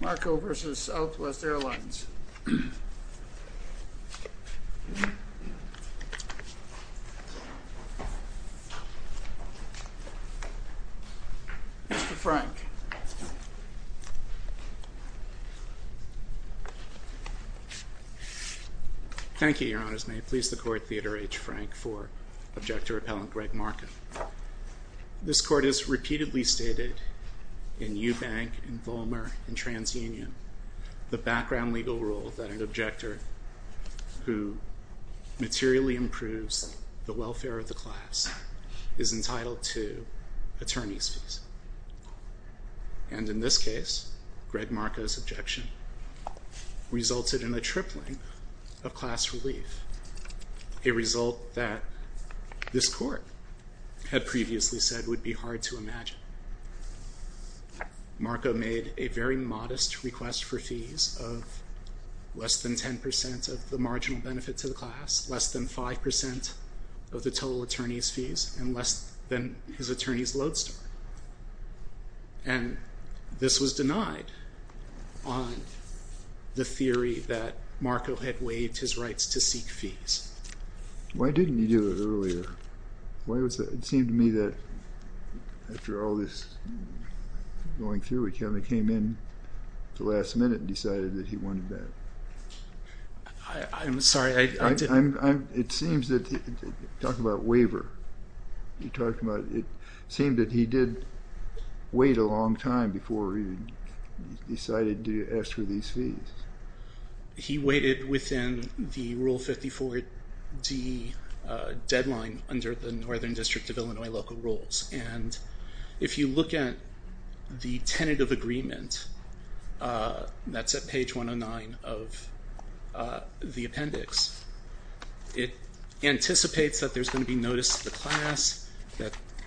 Markow v. Southwest Airlines. Mr. Frank. Thank you, Your Honours. May it please the Court, Theodore H. Frank for Object to Repellent Greg Markow. This Court has repeatedly stated in Eubank, in Vollmer, in TransUnion, the background legal rule that an objector who materially improves the welfare of the class is entitled to attorney's fees. And in this case, Greg Markow's objection resulted in a tripling of class relief, a result that this Court had previously said would be hard to imagine. Markow made a very modest request for fees of less than 10 percent of the marginal benefit to the class, less than 5 percent of the total attorney's fees, and less than his attorney's And this was denied on the theory that Markow had waived his rights to seek fees. Why didn't you do it earlier? Why was that? It seemed to me that, after all this going through, he kind of came in at the last minute and decided that he wanted that. I'm sorry, I didn't. I'm, it seems that, talk about waiver, you talked about, it seemed that he did wait a long time before he decided to ask for these fees. He waited within the Rule 54d deadline under the Northern District of Illinois local rules, and if you look at the tentative agreement, that's at page 109 of the appendix, it anticipates that there's going to be notice to the class,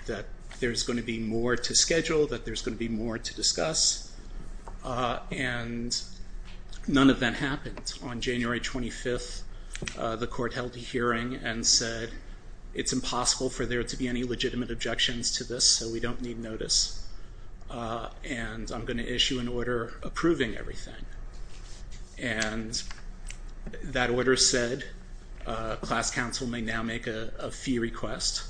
that there's going to be more to schedule, that there's going to be more to discuss, and none of that happened. On January 25th, the Court held a hearing and said it's impossible for there to be any legitimate objections to this, so we don't need notice, and I'm going to issue an order approving everything. And that order said class counsel may now make a fee request.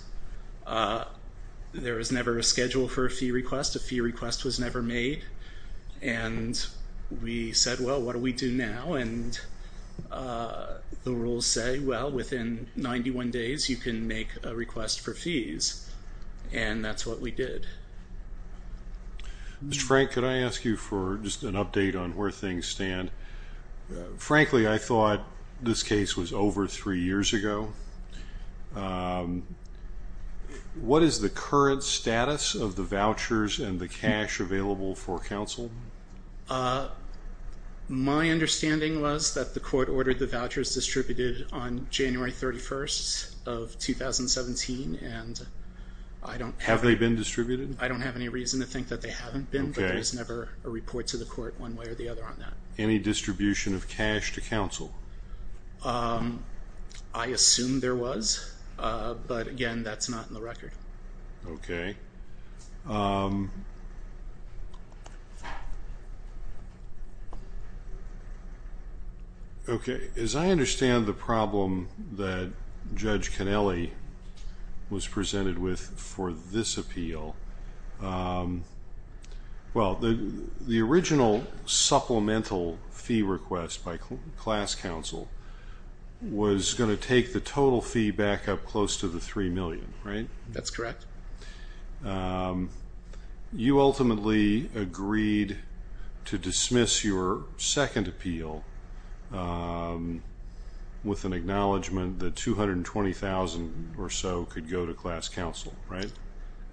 There was never a schedule for a fee request, a fee request was never made, and we said, well, what do we do now, and the rules say, well, within 91 days you can make a request for fees, and that's what we did. Mr. Frank, could I ask you for just an update on where things stand? Frankly, I thought this case was over three years ago. What is the current status of the vouchers and the cash available for counsel? My understanding was that the Court ordered the vouchers distributed on January 31st of 2017, and I don't- Have they been distributed? I don't have any reason to think that they haven't been, but there was never a report to the Court one way or the other on that. Any distribution of cash to counsel? I assume there was, but again, that's not in the record. Okay. Okay, as I understand the problem that Judge Cannelli was presented with for this appeal, well, the original supplemental fee request by class counsel was going to take the total fee back up close to the $3 million, right? That's correct. You ultimately agreed to dismiss your second appeal with an acknowledgement that $220,000 or so could go to class counsel, right?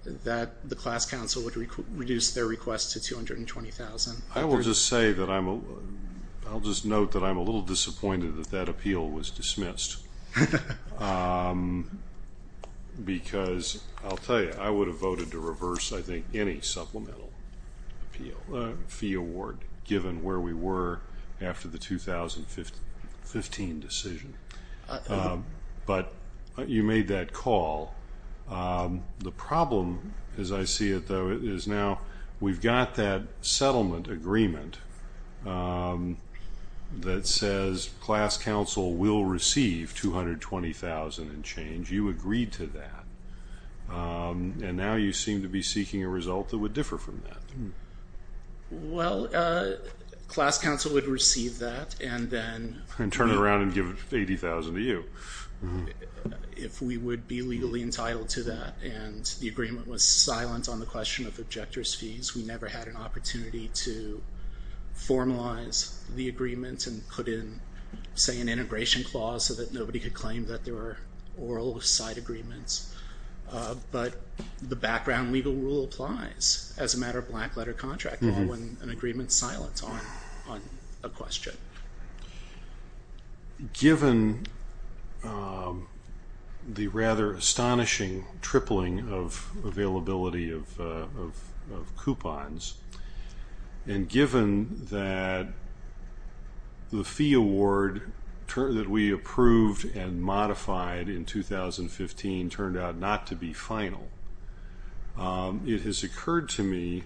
That the class counsel would reduce their request to $220,000. I will just say that I'm... I'll just note that I'm a little disappointed that that appeal was dismissed, because I'll tell you, I would have voted to reverse, I think, any supplemental appeal, fee award, given where we were after the 2015 decision, but you made that call. The problem, as I see it, though, is now we've got that settlement agreement that says class counsel will receive $220,000 and change. You agreed to that, and now you seem to be seeking a result that would differ from that. Well, class counsel would receive that and then... And turn it around and give $80,000 to you. If we would be legally entitled to that and the agreement was silent on the question of objector's fees, we never had an opportunity to formalize the agreement and put in, say, an integration clause so that nobody could claim that there were oral side agreements, but the background legal rule applies as a matter of black letter contract law when an agreement's silent on a question. Given the rather astonishing tripling of availability of coupons, and given that the fee award that we approved and modified in 2015 turned out not to be final, it has occurred to me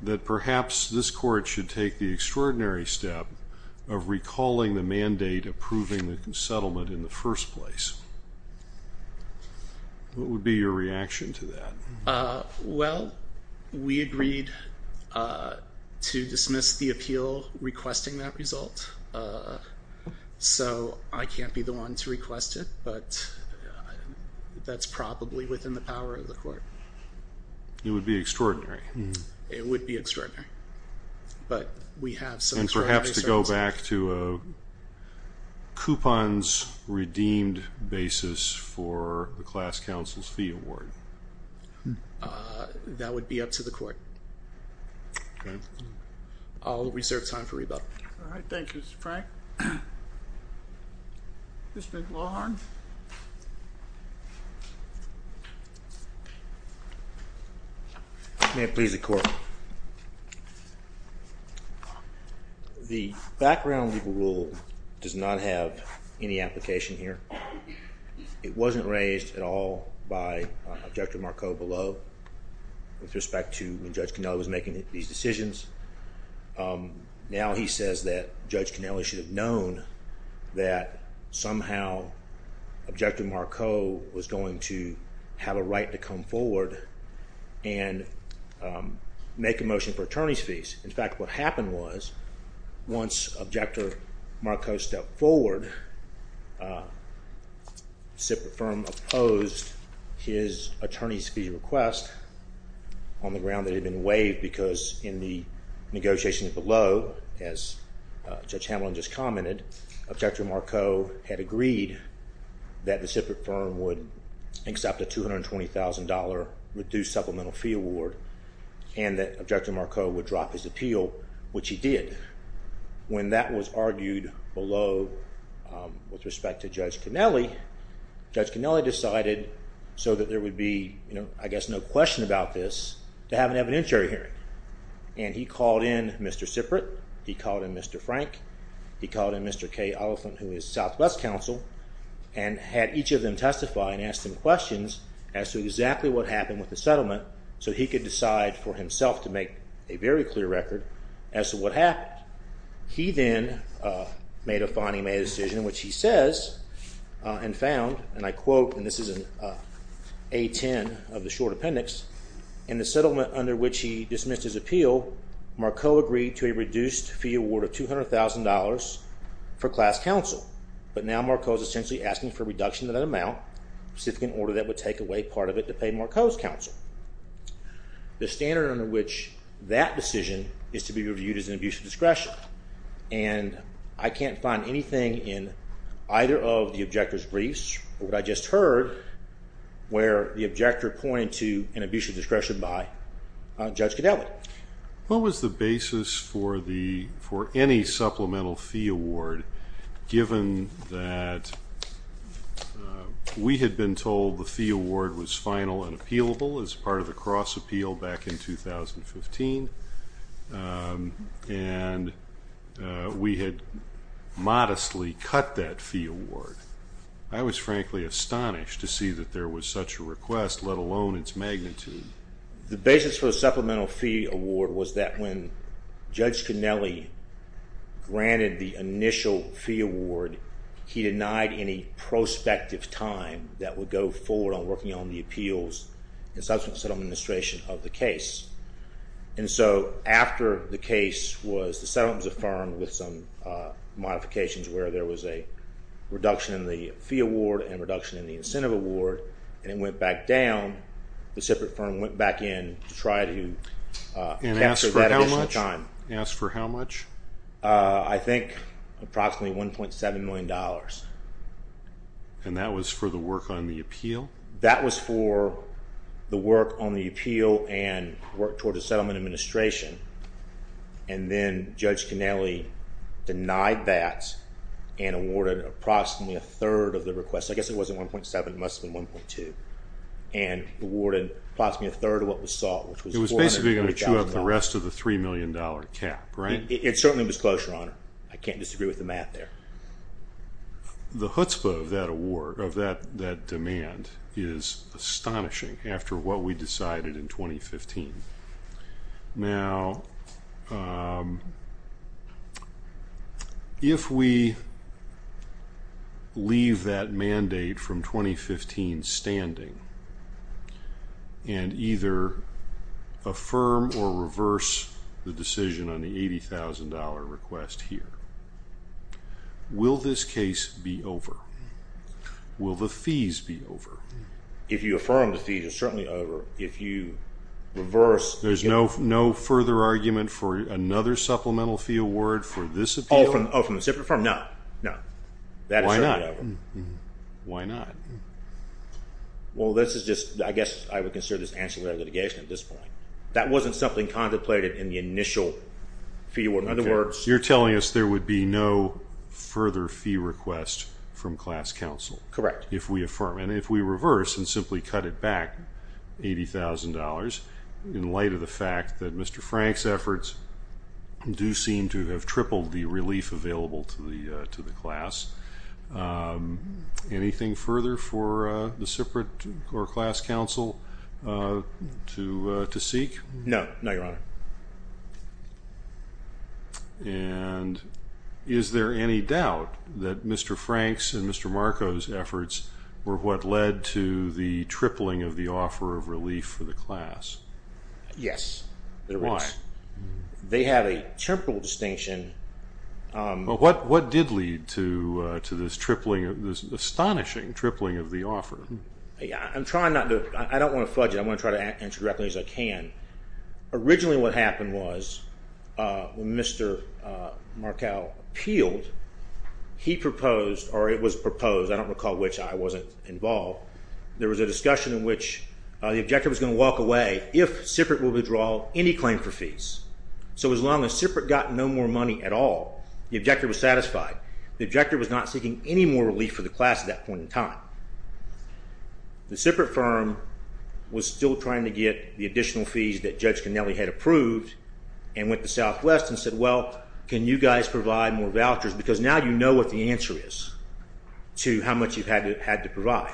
that perhaps this court should take the extraordinary step of recalling the mandate approving the settlement in the first place. What would be your reaction to that? Well, we agreed to dismiss the appeal requesting that result, so I can't be the one to request it, but that's probably within the power of the court. It would be extraordinary. It would be extraordinary. But we have some extraordinary circumstances. And perhaps to go back to a coupons redeemed basis for the class counsel's fee award. That would be up to the court. I'll reserve time for rebuttal. All right. Thank you, Mr. Frank. Mr. Lawhorn. May it please the court. The background legal rule does not have any application here. It wasn't raised at all by Objective Mark O below with respect to when Judge Cannella was making these decisions. Now he says that Judge Cannella should have known that somehow Objective Mark O was going to have a right to come forward and make a motion for attorney's fees. In fact, what happened was once Objective Mark O stepped forward, SIPA firm opposed his attorney's fee request on the ground that had been waived because in the negotiations below, as Judge Hamlin just commented, Objective Mark O had agreed that the SIPA firm would accept a $220,000 reduced supplemental fee award and that Objective Mark O would drop his appeal, which he did. When that was argued below with respect to Judge Cannella, Judge Cannella decided so that there would be, I guess, no question about this, to have an evidentiary hearing. He called in Mr. Siprit. He called in Mr. Frank. He called in Mr. Kay Oliphant, who is Southwest counsel, and had each of them testify and ask them questions as to exactly what happened with the settlement so he could decide for He then made a fine he made a decision, which he says, and found, and I quote, and this is in A10 of the short appendix, in the settlement under which he dismissed his appeal, Mark O agreed to a reduced fee award of $200,000 for class counsel, but now Mark O is essentially asking for a reduction of that amount, a specific order that would take away part of it to pay Mark O's counsel. The standard under which that decision is to be reviewed is an abuse of discretion, and I can't find anything in either of the objector's briefs or what I just heard where the objector pointed to an abuse of discretion by Judge Cannella. What was the basis for any supplemental fee award, given that we had been told the fee was part of the cross-appeal back in 2015, and we had modestly cut that fee award. I was frankly astonished to see that there was such a request, let alone its magnitude. The basis for the supplemental fee award was that when Judge Cannella granted the initial fee award, he denied any prospective time that would go forward on working on the appeals. That was the subsequent settlement administration of the case. After the case was, the settlement was affirmed with some modifications where there was a reduction in the fee award and reduction in the incentive award, and it went back down, the separate firm went back in to try to capture that additional time. Asked for how much? I think approximately $1.7 million. That was for the work on the appeal? That was for the work on the appeal and work toward the settlement administration, and then Judge Cannella denied that and awarded approximately a third of the request. I guess it wasn't 1.7, it must have been 1.2. And awarded approximately a third of what was sought, which was $400,000. It was basically going to chew up the rest of the $3 million cap, right? It certainly was close, Your Honor. I can't disagree with the math there. The chutzpah of that award, of that demand, is astonishing after what we decided in 2015. Now, if we leave that mandate from 2015 standing and either affirm or reverse the decision on the $80,000 request here, will this case be over? Will the fees be over? If you affirm the fees, it's certainly over. If you reverse... There's no further argument for another supplemental fee award for this appeal? Oh, from the separate firm? No. No. Why not? That is certainly over. Why not? Well, this is just... I guess I would consider this ancillary litigation at this point. That wasn't something contemplated in the initial fee award. In other words... You're telling us there would be no further fee request from class counsel? Correct. If we affirm. And if we reverse and simply cut it back $80,000 in light of the fact that Mr. Frank's efforts do seem to have tripled the relief available to the class, anything further for the separate or class counsel to seek? No. No, Your Honor. And is there any doubt that Mr. Frank's and Mr. Marko's efforts were what led to the tripling of the offer of relief for the class? Yes. Why? They have a temporal distinction. What did lead to this tripling, this astonishing tripling of the offer? I'm trying not to... I don't want to fudge it. I'm going to try to answer directly as I can. Originally what happened was when Mr. Marko appealed, he proposed, or it was proposed, I don't recall which. I wasn't involved. There was a discussion in which the objective was going to walk away if SIPRC would withdraw any claim for fees. So as long as SIPRC got no more money at all, the objective was satisfied. The objective was not seeking any more relief for the class at that point in time. The separate firm was still trying to get the additional fees that Judge Connelly had approved and went to Southwest and said, well, can you guys provide more vouchers? Because now you know what the answer is to how much you've had to provide.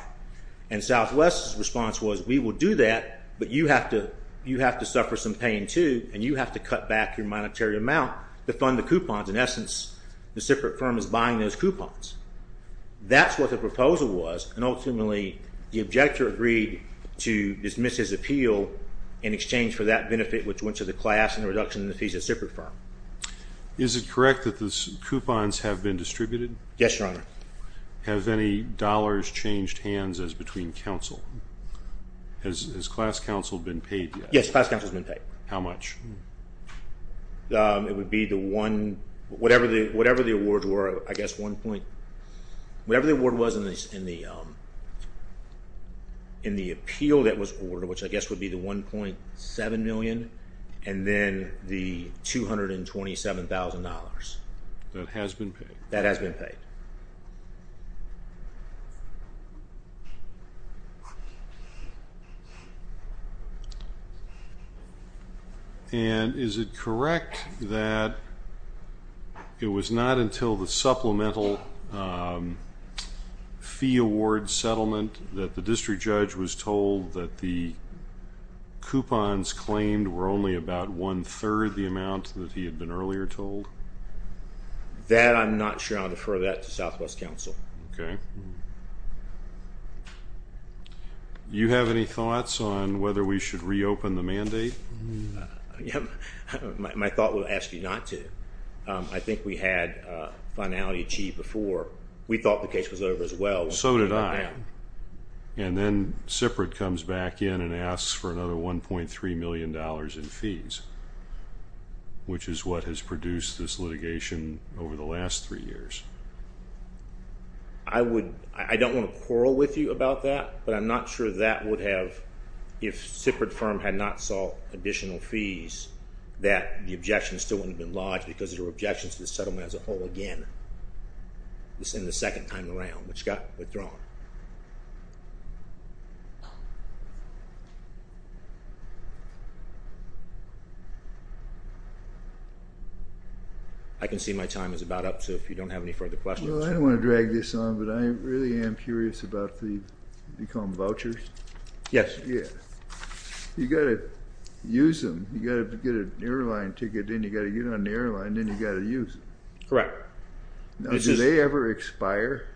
And Southwest's response was, we will do that, but you have to suffer some pain too, and you have to cut back your monetary amount to fund the coupons. In essence, the separate firm is buying those coupons. That's what the proposal was, and ultimately the objector agreed to dismiss his appeal in exchange for that benefit which went to the class and the reduction in the fees of the separate firm. Is it correct that the coupons have been distributed? Yes, Your Honor. Have any dollars changed hands as between counsel? Has class counsel been paid yet? Yes, class counsel has been paid. How much? It would be the one, whatever the award was in the appeal that was ordered, which I guess would be the $1.7 million, and then the $227,000. That has been paid? That has been paid. And is it correct that it was not until the supplemental fee award settlement that the district judge was told that the coupons claimed were only about one-third the amount that he had been earlier told? That, I'm not sure I'll defer that to Southwest counsel. Okay. You have any thoughts on whether we should reopen the mandate? My thought would be to ask you not to. I think we had finality achieved before. We thought the case was over as well. So did I. And then Siprit comes back in and asks for another $1.3 million in fees, which is what has produced this litigation over the last three years. I don't want to quarrel with you about that, but I'm not sure that would have, if Siprit firm had not sought additional fees, that the objection still wouldn't have been lodged because there were objections to the settlement as a whole again in the second time around, which got withdrawn. I can see my time is about up, so if you don't have any further questions. Well, I don't want to drag this on, but I really am curious about the, you call them vouchers? Yes. Yeah. You got to use them. You got to get an airline ticket in, you got to get on the airline, then you got to use it. Correct. Now, do they ever expire?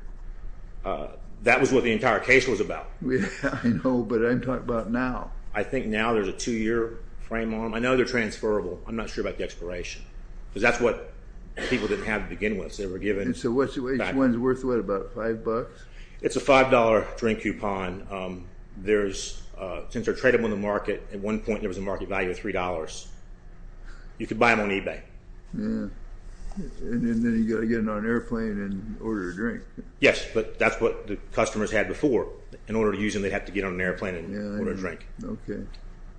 That was what the entire case was about. Yeah, I know, but I'm talking about now. I think now there's a two-year frame on them. I know they're transferable. I'm not sure about the expiration, because that's what people didn't have to begin with. They were given back. And so each one's worth, what, about five bucks? It's a $5 drink coupon. There's, since they're tradable in the market, at one point there was a market value of $3. You could buy them on eBay. Yeah. And then you got to get them on an airplane and order a drink. Yes, but that's what the customers had before. In order to use them, they'd have to get on an airplane and order a drink. Okay.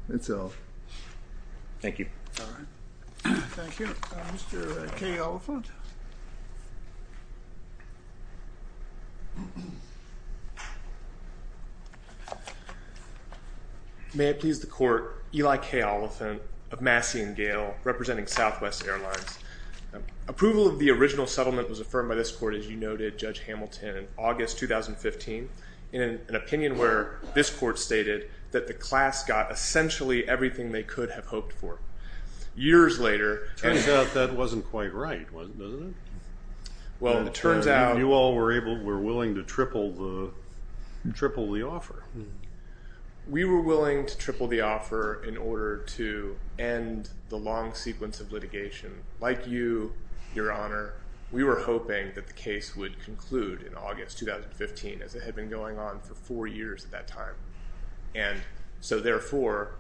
That's all. Thank you. All right. Thank you. Mr. K. Oliphant. May it please the Court, Eli K. Oliphant of Massey and Gale, representing Southwest Airlines. Approval of the original settlement was affirmed by this Court, as you noted, Judge Hamilton, in August 2015, in an opinion where this Court stated that the class got essentially everything they could have hoped for. Years later- Turns out that wasn't quite right, wasn't it? Well it turns out- You all were willing to triple the offer. We were willing to triple the offer in order to end the long sequence of litigation. Like you, Your Honor, we were hoping that the case would conclude in August 2015, as it had been going on for four years at that time. And so therefore,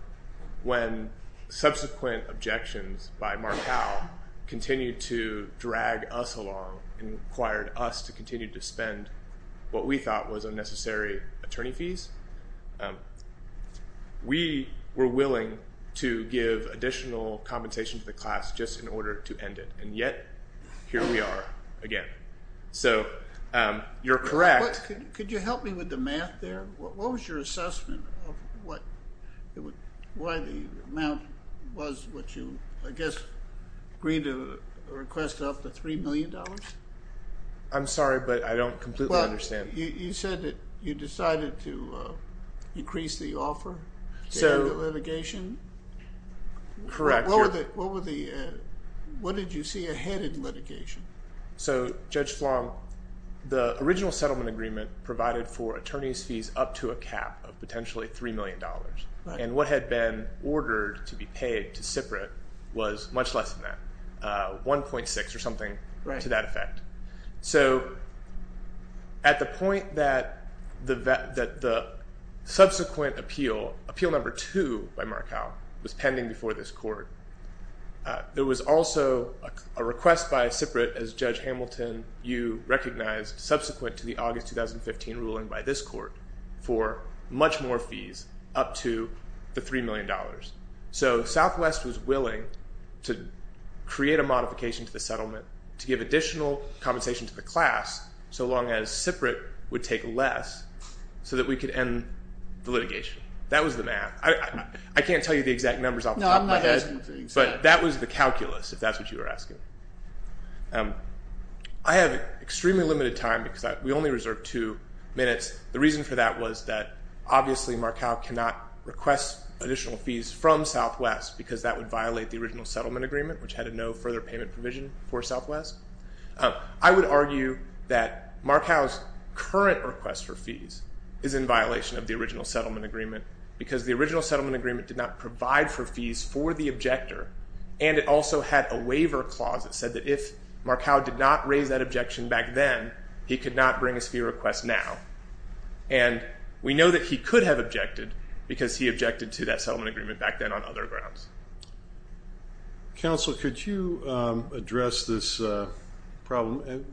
when subsequent objections by Martel continued to drag us along and required us to continue to spend what we thought was unnecessary attorney fees, we were willing to give additional compensation to the class just in order to end it. And yet, here we are again. So you're correct- Could you help me with the math there? What was your assessment of why the amount was what you, I guess, agreed to request off the $3 million? I'm sorry, but I don't completely understand. You said that you decided to increase the offer to end the litigation? Correct. What did you see ahead in litigation? So Judge Flong, the original settlement agreement provided for attorney's fees up to a cap of potentially $3 million. And what had been ordered to be paid to Siprit was much less than that. 1.6 or something to that effect. So at the point that the subsequent appeal, appeal number two by Martel, was pending before this court, there was also a request by Siprit as Judge Hamilton, you recognized subsequent to the August 2015 ruling by this court for much more fees up to the $3 million. So Southwest was willing to create a modification to the settlement to give additional compensation to the class so long as Siprit would take less so that we could end the litigation. That was the math. I can't tell you the exact numbers off the top of my head, but that was the calculus if that's what you were asking. I have extremely limited time because we only reserve two minutes. The reason for that was that obviously Martel cannot request additional fees from Southwest because that would violate the original settlement agreement, which had a no further payment provision for Southwest. I would argue that Martel's current request for fees is in violation of the original settlement agreement because the original settlement agreement did not provide for fees for the objector and it also had a waiver clause that said that if Martel did not raise that objection back then, he could not bring us a fee request now. And we know that he could have objected because he objected to that settlement agreement back then on other grounds. Counsel, could you address this problem?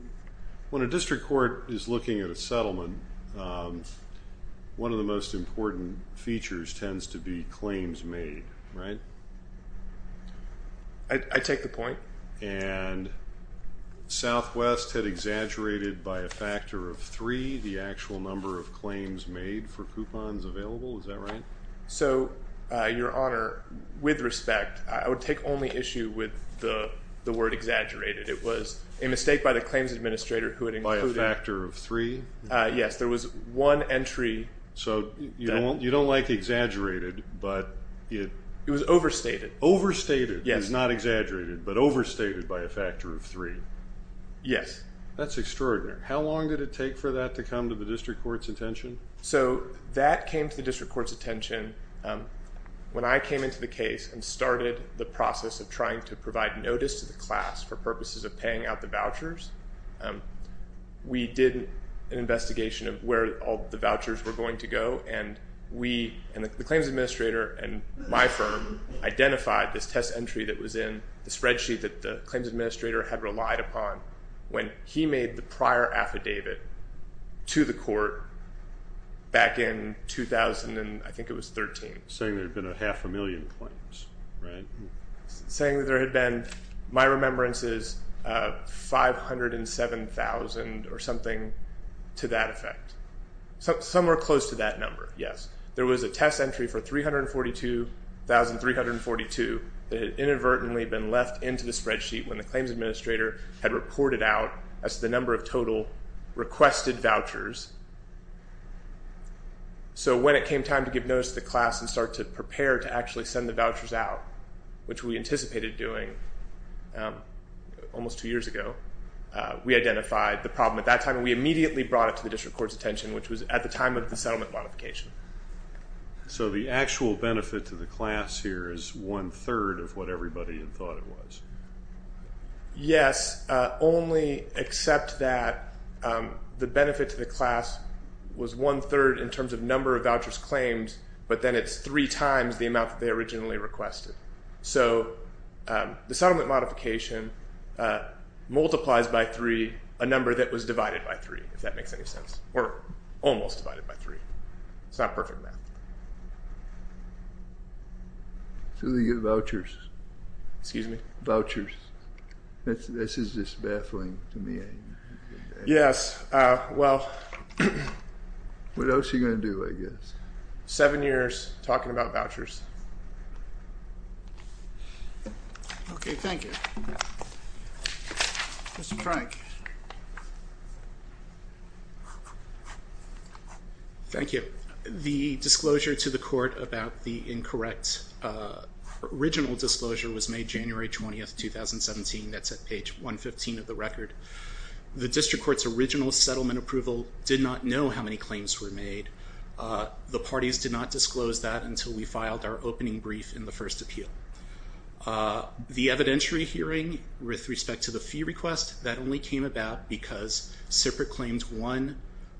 When a district court is looking at a settlement, one of the most important features tends to be claims made, right? I take the point. And Southwest had exaggerated by a factor of three the actual number of claims made for coupons available, is that right? So your honor, with respect, I would take only issue with the word exaggerated. It was a mistake by the claims administrator who had included- By a factor of three? Yes, there was one entry- So you don't like exaggerated, but it- It was overstated. Overstated is not exaggerated, but overstated by a factor of three. Yes. That's extraordinary. How long did it take for that to come to the district court's attention? So that came to the district court's attention when I came into the case and started the process of trying to provide notice to the class for purposes of paying out the vouchers. We did an investigation of where all the vouchers were going to go and we, and the claims administrator and my firm, identified this test entry that was in the spreadsheet that the claims administrator had relied upon when he made the prior affidavit to the court back in 2000 and I think it was 13. Saying there had been a half a million claims, right? Saying that there had been, my remembrance is, 507,000 or something to that effect. Somewhere close to that number, yes. There was a test entry for 342,342 that had inadvertently been left into the spreadsheet when the claims administrator had reported out as the number of total requested vouchers. So when it came time to give notice to the class and start to prepare to actually send the vouchers out, which we anticipated doing almost two years ago, we identified the problem at that time and we immediately brought it to the district court's attention, which was at the time of the settlement modification. So the actual benefit to the class here is one-third of what everybody had thought it was? Yes, only except that the benefit to the class was one-third in terms of number of vouchers claims, but then it's three times the amount that they originally requested. So the settlement modification multiplies by three a number that was divided by three, if that makes any sense. Or almost divided by three. It's not perfect math. So they get vouchers? Excuse me? Vouchers. This is just baffling to me. Yes, well. What else are you going to do, I guess? Seven years talking about vouchers. Okay, thank you. Mr. Frank. Thank you. The disclosure to the court about the incorrect original disclosure was made January 20th, 2017. That's at page 115 of the record. The district court's original settlement approval did not know how many claims were made. The parties did not disclose that until we filed our opening brief in the first appeal. The evidentiary hearing with respect to the fee request, that only came about because SIPRC claimed one,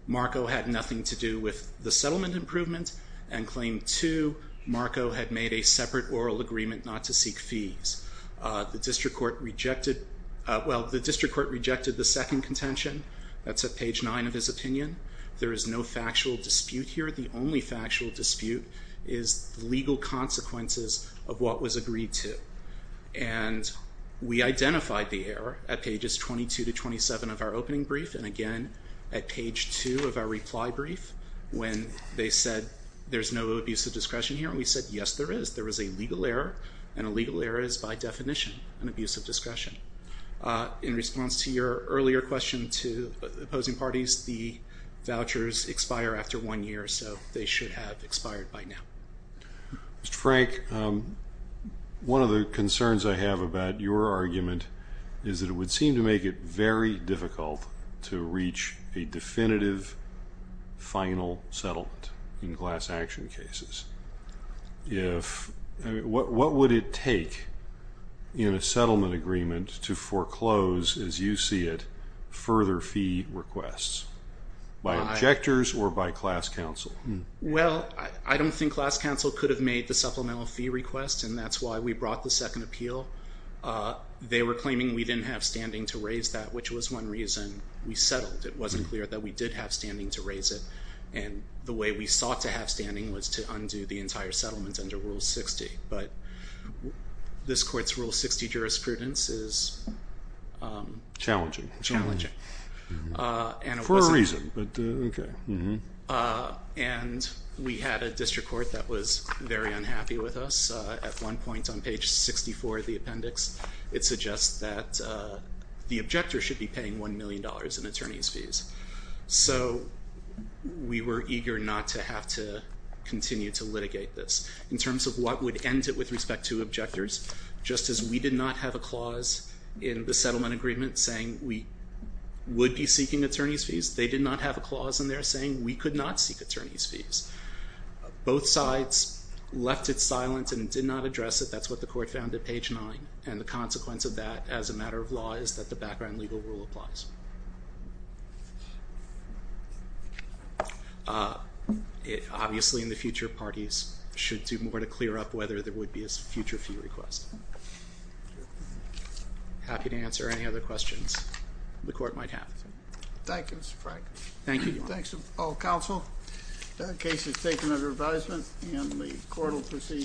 Marco had nothing to do with the settlement improvement, and claimed two, Marco had made a separate oral agreement not to seek fees. The district court rejected, well, the district court rejected the second contention. That's at page nine of his opinion. There is no factual dispute here. The only factual dispute is legal consequences of what was agreed to. And we identified the error at pages 22 to 27 of our opening brief, and again at page two of our reply brief, when they said there's no abuse of discretion here, and we said yes there is. There is a legal error, and a legal error is by definition an abuse of discretion. In response to your earlier question to opposing parties, the vouchers expire after one year, so they should have expired by now. Mr. Frank, one of the concerns I have about your argument is that it would seem to make it very difficult to reach a definitive final settlement in class action cases. What would it take in a settlement agreement to foreclose, as you see it, further fee requests? By objectors or by class counsel? Well, I don't think class counsel could have made the supplemental fee request, and that's why we brought the second appeal. They were claiming we didn't have standing to raise that, which was one reason we settled. It wasn't clear that we did have standing to raise it, and the way we sought to have standing was to undo the entire settlement under Rule 60. But this court's Rule 60 jurisprudence is... Challenging. Challenging. For a reason. And we had a district court that was very unhappy with us. At one point on page 64 of the appendix, it suggests that the objector should be paying $1 million in attorney's fees. So we were eager not to have to continue to litigate this. In terms of what would end it with respect to objectors, just as we did not have a clause in the settlement agreement saying we would be seeking attorney's fees, they did not have a clause in there saying we could not seek attorney's fees. Both sides left it silent and did not address it. That's what the court found at page nine, and the consequence of that as a matter of law is that the background legal rule applies. Obviously in the future, parties should do more to clear up whether there would be a future fee request. Happy to answer any other questions the court might have. Thank you, Mr. Frank. Thank you. Thanks to all counsel. The case is taken under advisement, and the court will proceed.